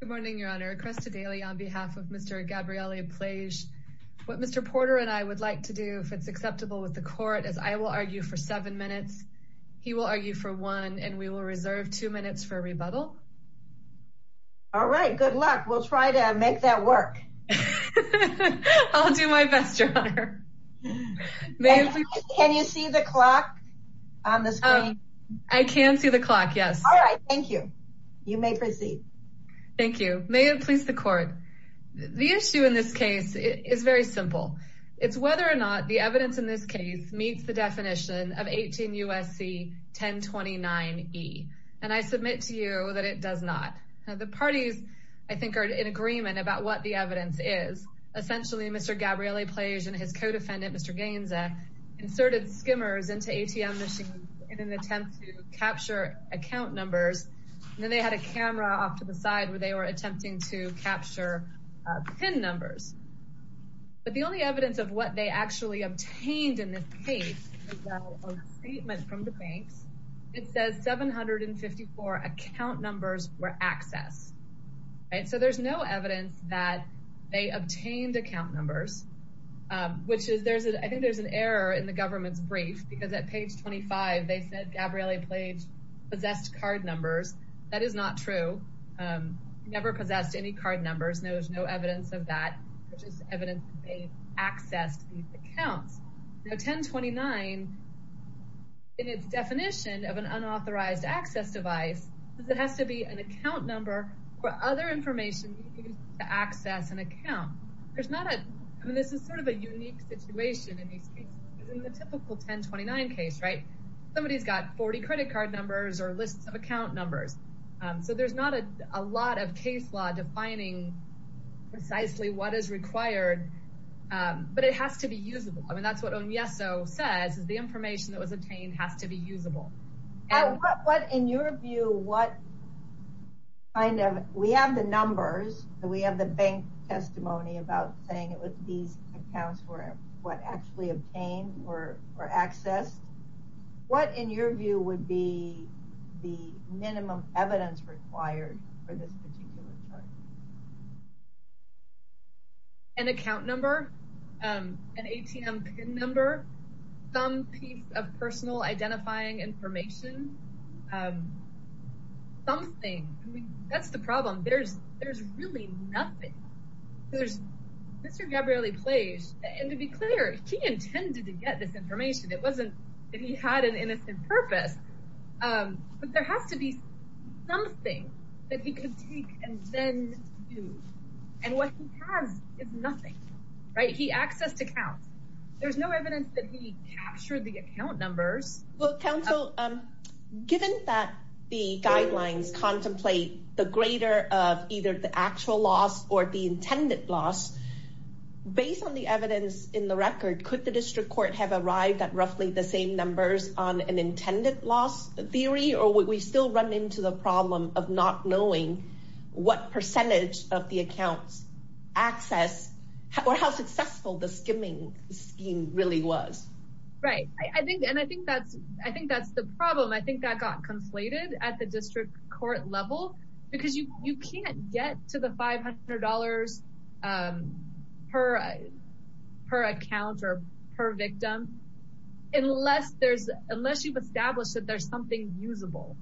Good morning, Your Honor. Cresta Daly on behalf of Mr. Gabriele Plage. What Mr. Porter and I would like to do if it's acceptable with the court is I will argue for seven minutes. He will argue for one and we will reserve two minutes for rebuttal. All right, good luck. We'll try to make that work. I'll do my best, Your Honor. Can you see the clock on the screen? I can see the clock. Yes. All right. Thank you. You may proceed. Thank you. May it please the court. The issue in this case is very simple. It's whether or not the evidence in this case meets the definition of 18 U.S.C. 1029 E. And I submit to you that it does not. The parties, I think, are in agreement about what the evidence is. Essentially, Mr. Gabriele Plage and his co-defendant, Mr. Gainza, inserted skimmers into ATM machines in an attempt to capture account numbers. Then they had a camera off to the side where they were attempting to capture PIN numbers. But the only evidence of what they actually obtained in this case is a statement from the banks. It says 754 account numbers were accessed. And so there's no evidence that they obtained account numbers, which is there's a I think there's an error in the government's brief because at page 25, they said Gabriele Plage possessed card numbers. That is not true. Never possessed any card numbers. No, there's no evidence of that, which is evidence they accessed these accounts. Now 1029 in its definition of an unauthorized access device is it has to be an account number for other information to access an account. There's not a I mean, this is sort of a unique situation in the typical 1029 case, right? Somebody's got 40 credit card numbers or lists of account numbers. So there's not a lot of case law defining precisely what is required. But it has to be usable. I mean, that's what Onyeso says is the information that was obtained has to be usable. And what in your view, what kind of we have the numbers that we have the bank testimony about saying it with these accounts were what actually obtained or accessed? What in your view would be the minimum evidence required for this particular chart? An account number, an ATM pin number, some piece of personal identifying information. Something I mean, that's the problem. There's there's really nothing. There's Mr. Gabriele Plage. And to be clear, he intended to get this purpose. But there has to be something that he could take and then do. And what he has is nothing, right? He accessed accounts. There's no evidence that he captured the account numbers. Well, counsel, given that the guidelines contemplate the greater of either the actual loss or the intended loss, based on the evidence in the record, could the district court have arrived at roughly the same numbers on an intended loss theory? Or would we still run into the problem of not knowing what percentage of the accounts access or how successful the skimming scheme really was? Right, I think and I think that's, I think that's the problem. I think that got conflated at the district court level, because you can't get to the $500 per, per account or per unless there's unless you've established that there's something usable,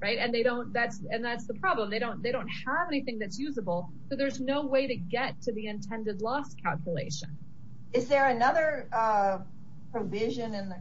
right? And they don't that's, and that's the problem. They don't they don't have anything that's usable. So there's no way to get to the intended loss calculation. Is there another provision in the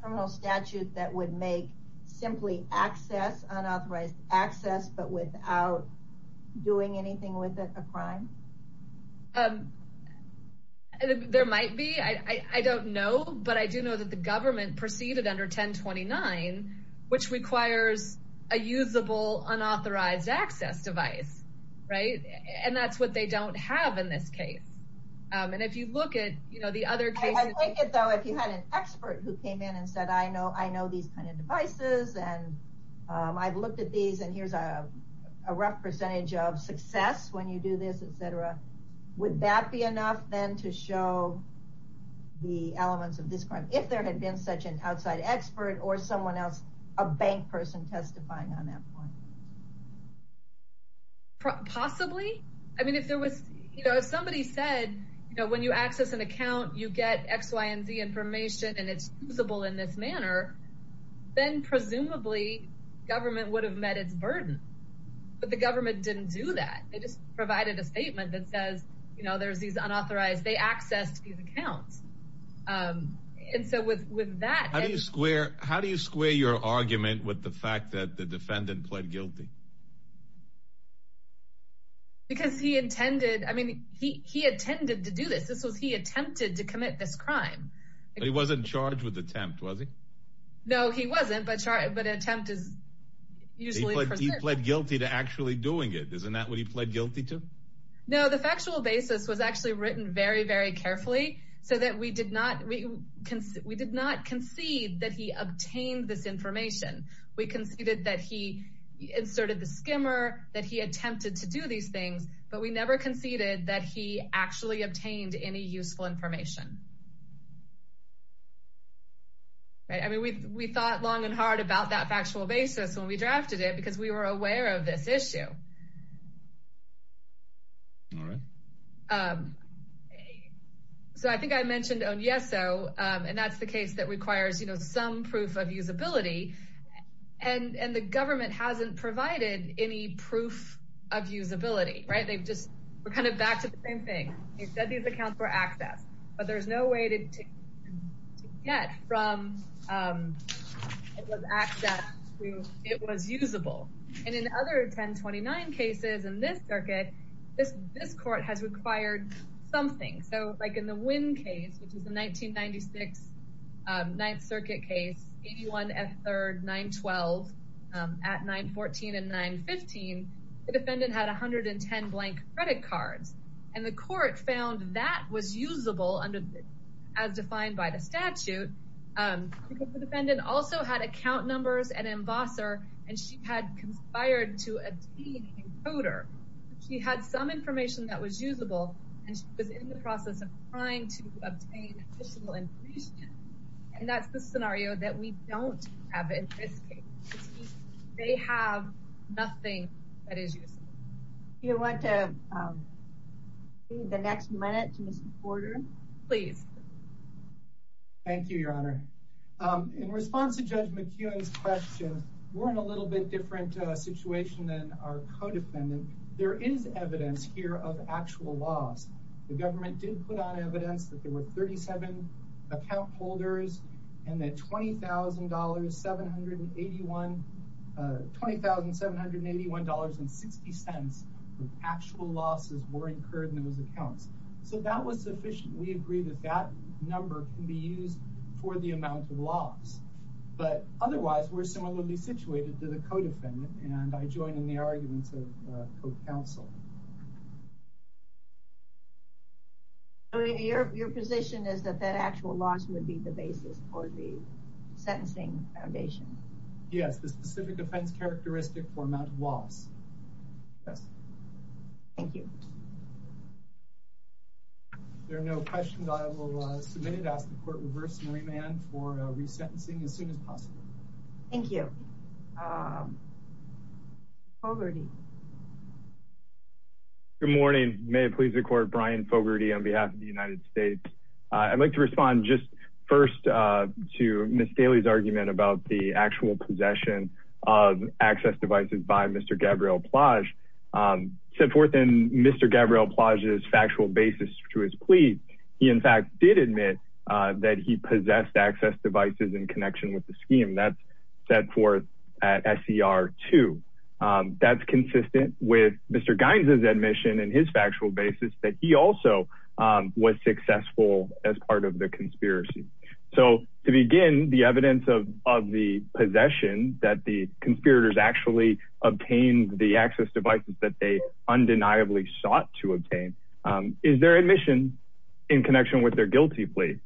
criminal statute that would make simply access unauthorized access but without doing anything with a crime? Um, there might be I don't know, but I do know that the government proceeded under 1029, which requires a usable unauthorized access device, right? And that's what they don't have in this case. And if you look at, you know, the other case, I think it though, if you had an expert who came in and said, I know, I know these kind of devices. And I've looked at these. And here's a rough percentage of success. When you do this, etc. Would that be enough then to show the elements of this crime if there had been such an outside expert or someone else, a bank person testifying on that point? Possibly, I mean, if there was, you know, if somebody said, you know, when you access an account, you get X, Y, and Z information, and it's usable in this manner, then presumably, government would have met its burden. But the government didn't do that. They just provided a statement that says, you know, there's these unauthorized, they accessed these accounts. And so with with that, how do you square how do you square your argument with the fact that the defendant pled guilty? Because he intended, I mean, he he intended to do this. This was he attempted to commit this crime. He wasn't charged with attempt, was he? No, he wasn't. But sorry, but attempt is usually pled guilty to actually doing it. Isn't that what he pled guilty to? No, the factual basis was actually written very, very carefully, so that we did not, we did not concede that he obtained this information. We conceded that he inserted the skimmer that he attempted to do these things, but we never conceded that he actually obtained any useful information. I mean, we thought long and hard about that factual basis when we were aware of this issue. So I think I mentioned on yes, so and that's the case that requires, you know, some proof of usability. And and the government hasn't provided any proof of usability, right? They've just, we're kind of back to the same thing. He said these accounts were accessed, but there's no way to get from it was usable. And in other 1029 cases in this circuit, this this court has required something. So like in the Wynn case, which is the 1996 Ninth Circuit case, 81 F. 3rd, 912 at 914 and 915, the defendant had 110 blank credit cards, and the court found that was usable under as defined by the statute. And the defendant also had account numbers and embosser, and she had conspired to obtain encoder. She had some information that was usable, and she was in the process of trying to obtain additional information. And that's the scenario that we don't have in this case. They have nothing that is useful. You want to the next minute to Mr. Porter, please. Thank you, Your Honor. In response to Judge McEwen's question, we're in a little bit different situation than our codefendant. There is evidence here of actual loss. The government did put on evidence that there were 37 account holders and that $20,781, $20,781.60 actual losses were incurred in those accounts. So that was sufficient. We agree that that number can be used for the amount of loss. But otherwise, we're similarly situated to the codefendant, and I join in the arguments of code counsel. Your position is that that actual loss would be the basis for the sentencing foundation? Yes, the specific offense characteristic for amount of loss. Yes. Thank you. If there are no questions, I will submit it, ask the court to reverse and remand for resentencing as soon as possible. Thank you. Fogarty. Good morning. May it please the court, Brian Fogarty on behalf of the United States. I'd like to respond just first to Ms. Daly's argument about the actual possession of access devices by Mr. Gabriel Plage's factual basis to his plea. He in fact did admit that he possessed access devices in connection with the scheme that's set forth at SCR 2. That's consistent with Mr. Gaines's admission and his factual basis that he also was successful as part of the conspiracy. So to begin, the evidence of the possession that the conspirators actually obtained the access devices that they undeniably sought to obtain is their admission in connection with their guilty plea.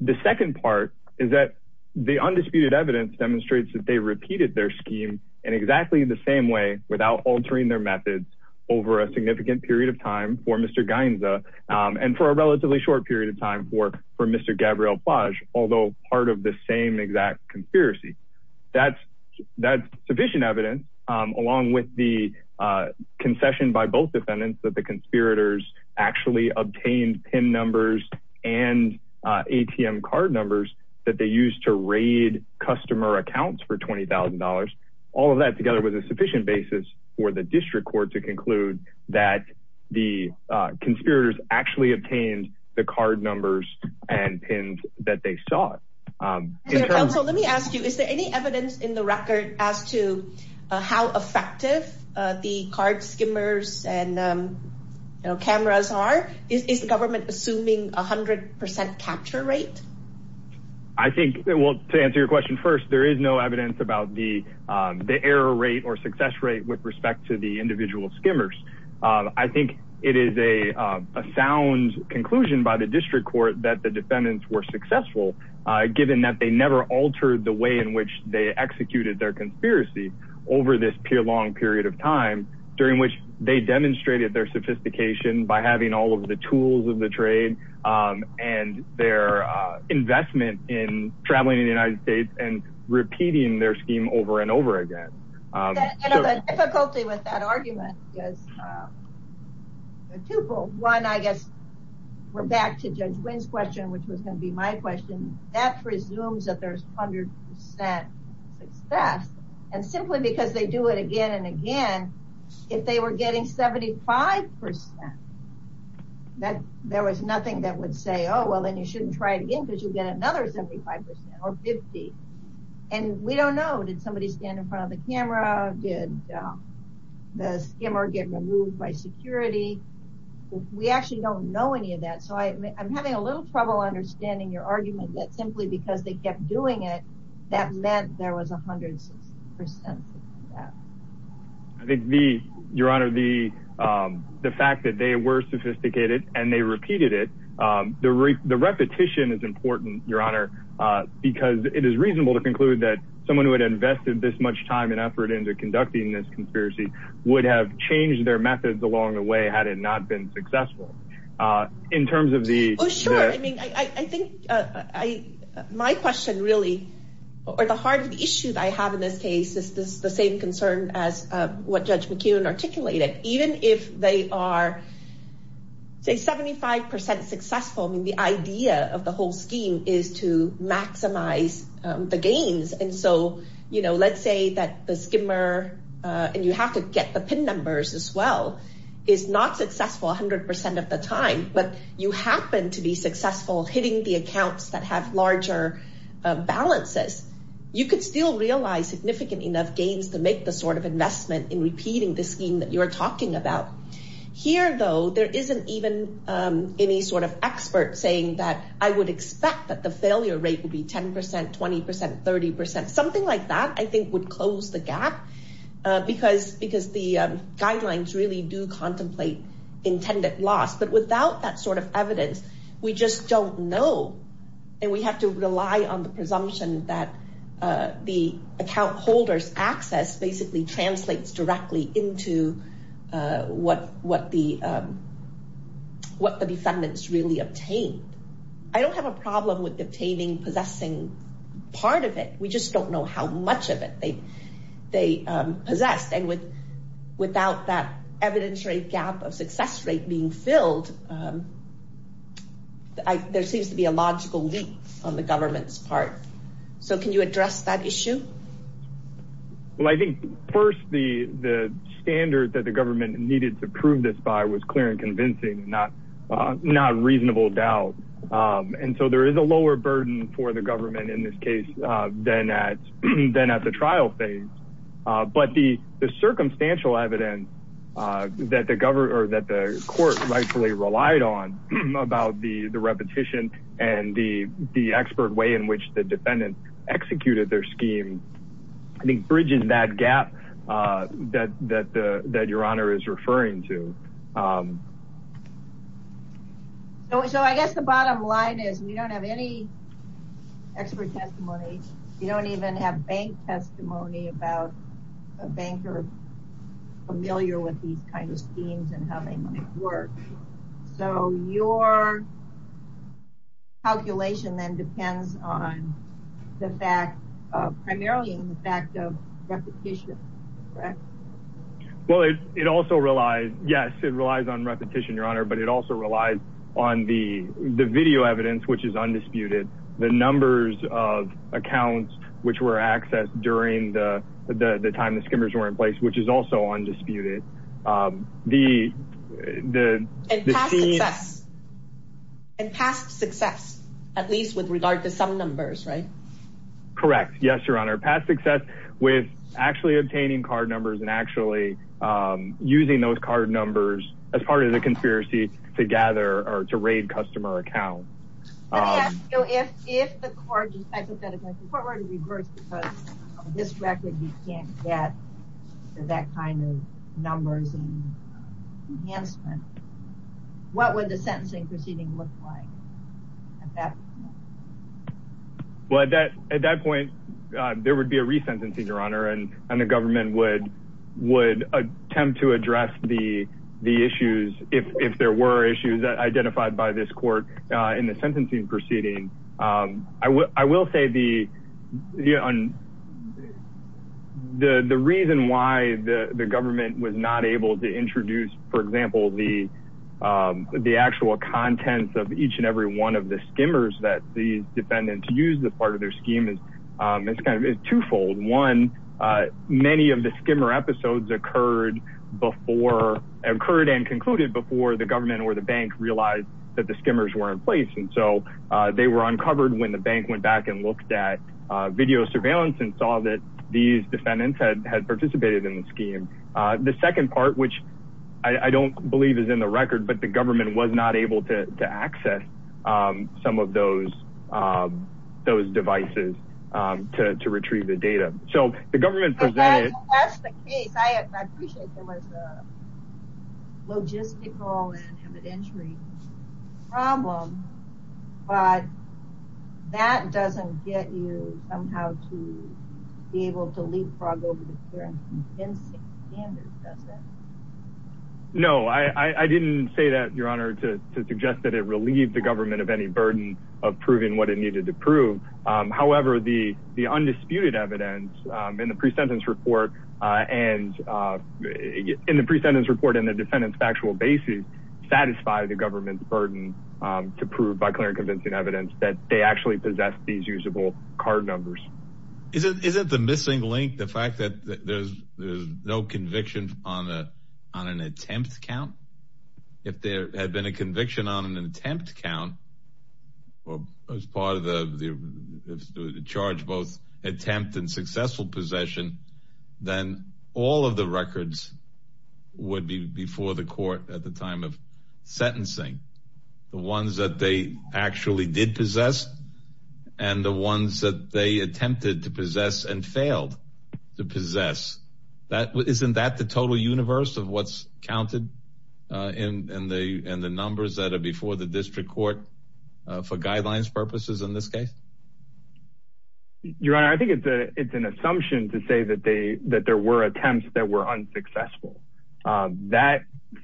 The second part is that the undisputed evidence demonstrates that they repeated their scheme in exactly the same way without altering their methods over a significant period of time for Mr. Gaines and for a relatively short period of time for Mr. Gabriel Plage, although part of the same conspiracy. That's sufficient evidence along with the concession by both defendants that the conspirators actually obtained PIN numbers and ATM card numbers that they used to raid customer accounts for $20,000. All of that together was a sufficient basis for the district court to conclude that the conspirators actually obtained the card numbers and sought. Let me ask you, is there any evidence in the record as to how effective the card skimmers and cameras are? Is the government assuming 100% capture rate? I think it will to answer your question. First, there is no evidence about the error rate or success rate with respect to the individual skimmers. I think it is a sound conclusion by the district court that the defendants were successful, given that they never altered the way in which they executed their conspiracy over this long period of time, during which they demonstrated their sophistication by having all of the tools of the trade and their investment in traveling in the United States and repeating their scheme over and over again. The difficulty with that argument is twofold. One, I which was going to be my question, that presumes that there is 100% success. Simply because they do it again and again, if they were getting 75%, there was nothing that would say, oh, well, then you shouldn't try it again because you will get another 75% or 50%. We don't know. Did somebody stand in front of the camera? Did the skimmer get removed by security? We actually don't know any of that. I am having a little trouble understanding your argument that simply because they kept doing it, that meant there was 100% of that. I think the, your honor, the fact that they were sophisticated and they repeated it, the repetition is important, your honor, because it is reasonable to conclude that someone who had invested this much time and effort into conducting this conspiracy would have changed their methods along the way had it not been successful. In terms of the I think my question really, or the heart of the issue that I have in this case is the same concern as what Judge McKeown articulated. Even if they are, say, 75% successful, the idea of the whole scheme is to maximize the gains. Let's say that the skimmer, and you have to get the pin numbers as well, is not successful 100% of the time, but you happen to be hitting the accounts that have larger balances, you could still realize significant enough gains to make the sort of investment in repeating the scheme that you're talking about. Here, though, there isn't even any sort of expert saying that I would expect that the failure rate would be 10%, 20%, 30%, something like that, I think would close the gap because the guidelines really do contemplate intended loss. Without that sort of evidence, we just don't know. We have to rely on the presumption that the account holder's access basically translates directly into what the defendants really obtained. I don't have a problem with obtaining, possessing part of it. We just don't know how much of it they possessed. Without that evidence rate gap of success rate being filled, there seems to be a logical leap on the government's part. Can you address that issue? Well, I think first, the standard that the government needed to prove this by was clear and convincing, not reasonable doubt. There is a lower burden for the government in this case than at the trial phase. But the circumstantial evidence that the court rightfully relied on about the repetition and the expert way in which the defendant executed their scheme, I think, bridges that gap that your Honor is referring to. So, I guess the bottom line is we don't have any expert testimony. We don't even have bank testimony about a banker familiar with these kind of schemes and how they might work. So, your calculation then depends on the fact, primarily in the fact of repetition, correct? Well, it also relies, yes, it relies on repetition, your Honor, but it also relies on the video evidence, which is undisputed. The numbers of accounts which were accessed during the time the skimmers were in place, which is also undisputed. And past success, at least with regard to some numbers, right? Correct. Yes, your Honor. Past success with actually obtaining card numbers and actually using those card numbers as part of the conspiracy to gather or to raid customer accounts. If the court were to reverse because of this record, you can't get that kind of numbers and enhancement, what would the sentencing proceeding look like? Well, at that point, there would be a resentencing, your would attempt to address the issues if there were issues identified by this court in the sentencing proceeding. I will say the reason why the government was not able to introduce, for example, the actual contents of each and every one of the skimmers that these defendants use as part of occurred and concluded before the government or the bank realized that the skimmers were in place. And so they were uncovered when the bank went back and looked at video surveillance and saw that these defendants had participated in the scheme. The second part, which I don't believe is in the record, but the government was not able to access some of those devices to retrieve the data. So the government presented. And that's the case. I appreciate there was a logistical and evidentiary problem, but that doesn't get you somehow to be able to leapfrog over the current standard, does it? No, I didn't say that, Your Honor, to suggest that it needed to prove. However, the the undisputed evidence in the pre-sentence report and in the pre-sentence report and the defendant's factual basis satisfy the government's burden to prove by clear and convincing evidence that they actually possess these usable card numbers. Isn't the missing link the fact that there's no conviction on an attempt count? If there had been a conviction on an attempt count as part of the charge, both attempt and successful possession, then all of the records would be before the court at the time of sentencing, the ones that they actually did possess and the ones that they attempted to possess and failed to possess. Isn't that the total universe of what's counted in the numbers that are before the district court for guidelines purposes in this case? Your Honor, I think it's an assumption to say that they that there were attempts that were unsuccessful. That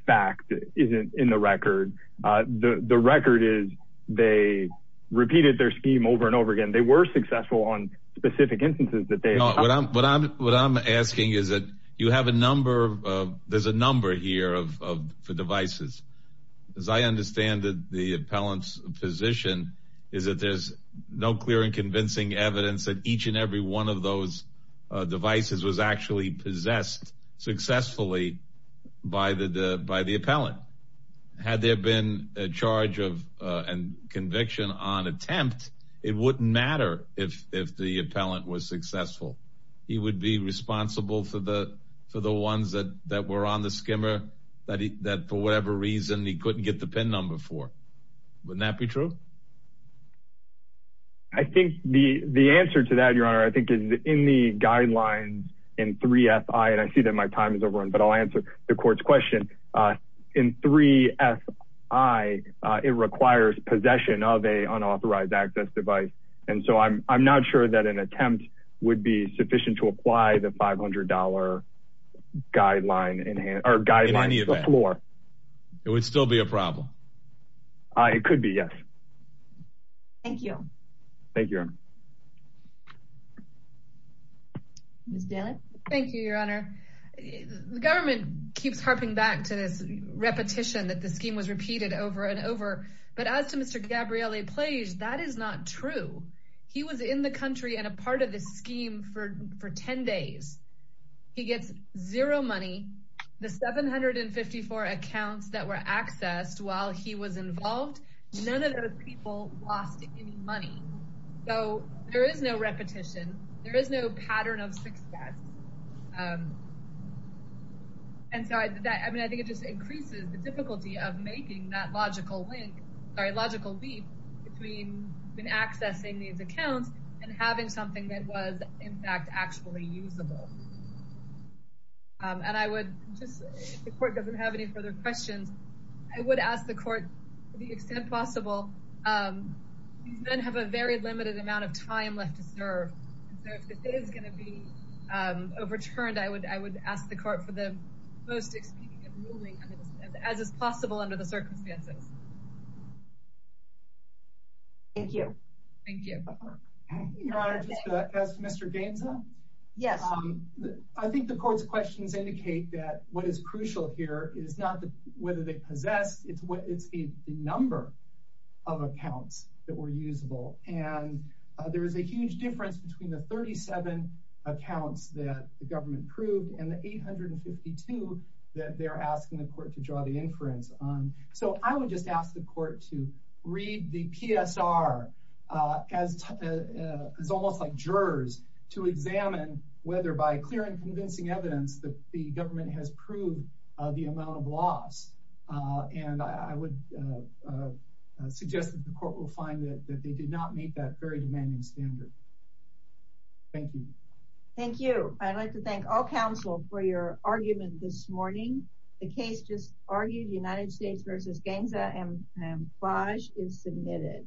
fact isn't in the record. The record is they repeated their scheme over and over again. They were successful on specific instances that they what I'm what I'm what I'm asking is that you have a number of there's a number here of for devices. As I understand that the appellant's position is that there's no clear and convincing evidence that each and every one of those devices was actually possessed successfully by the by the appellant. Had there been a charge of and conviction on attempt, it wouldn't matter if if the appellant was successful, he would be responsible for the for the ones that that were on the skimmer that that for whatever reason he couldn't get the pin number for. Wouldn't that be true? I think the the answer to that, Your Honor, I think is in the guidelines in three F.I. And I see that my time is over, but I'll answer the court's question in three F.I. It requires possession of a unauthorized access device. And so I'm I'm not sure that an attempt would be sufficient to apply the $500 guideline in hand or guideline floor. It would still be a problem. It could be, yes. Thank you. Thank you. Thank you, Your Honor. Ms. Dannett? Thank you, Your Honor. The government keeps harping back to this repetition that the scheme was repeated over and over. But as to Mr. Gabriele Plage, that is not true. He was in the country and a part of the scheme for for 10 days. He gets zero money. The 754 accounts that were accessed while he was involved, none of those people lost any money. So there is no repetition. There is no pattern of success. And so I mean, I think it just increases the difficulty of making that logical link or logical leap between accessing these accounts and having something that was, in fact, actually usable. And I would just if the court doesn't have any further questions, I would ask the court, to the extent possible, these men have a very limited amount of time left to serve. And so if the day is going to be overturned, I would ask the court for the most expedient ruling as is possible under the circumstances. Thank you. Thank you. Your Honor, just to ask Mr. Gaineson. Yes. I think the court's questions indicate that what is crucial here is not whether they possess. It's what it's the number of accounts that were usable. And there is a huge difference between the 37 accounts that the government proved and the 852 that they're asking the court to draw the inference on. So I would just ask the court to read the PSR as almost like jurors to examine whether by clear and convincing evidence that the government has proved the amount of loss. And I would suggest that the court will find that they did not meet that very demanding standard. Thank you. Thank you. I'd like to thank all counsel for your argument this morning. The case just argued United States versus Gainesville Amplage is submitted.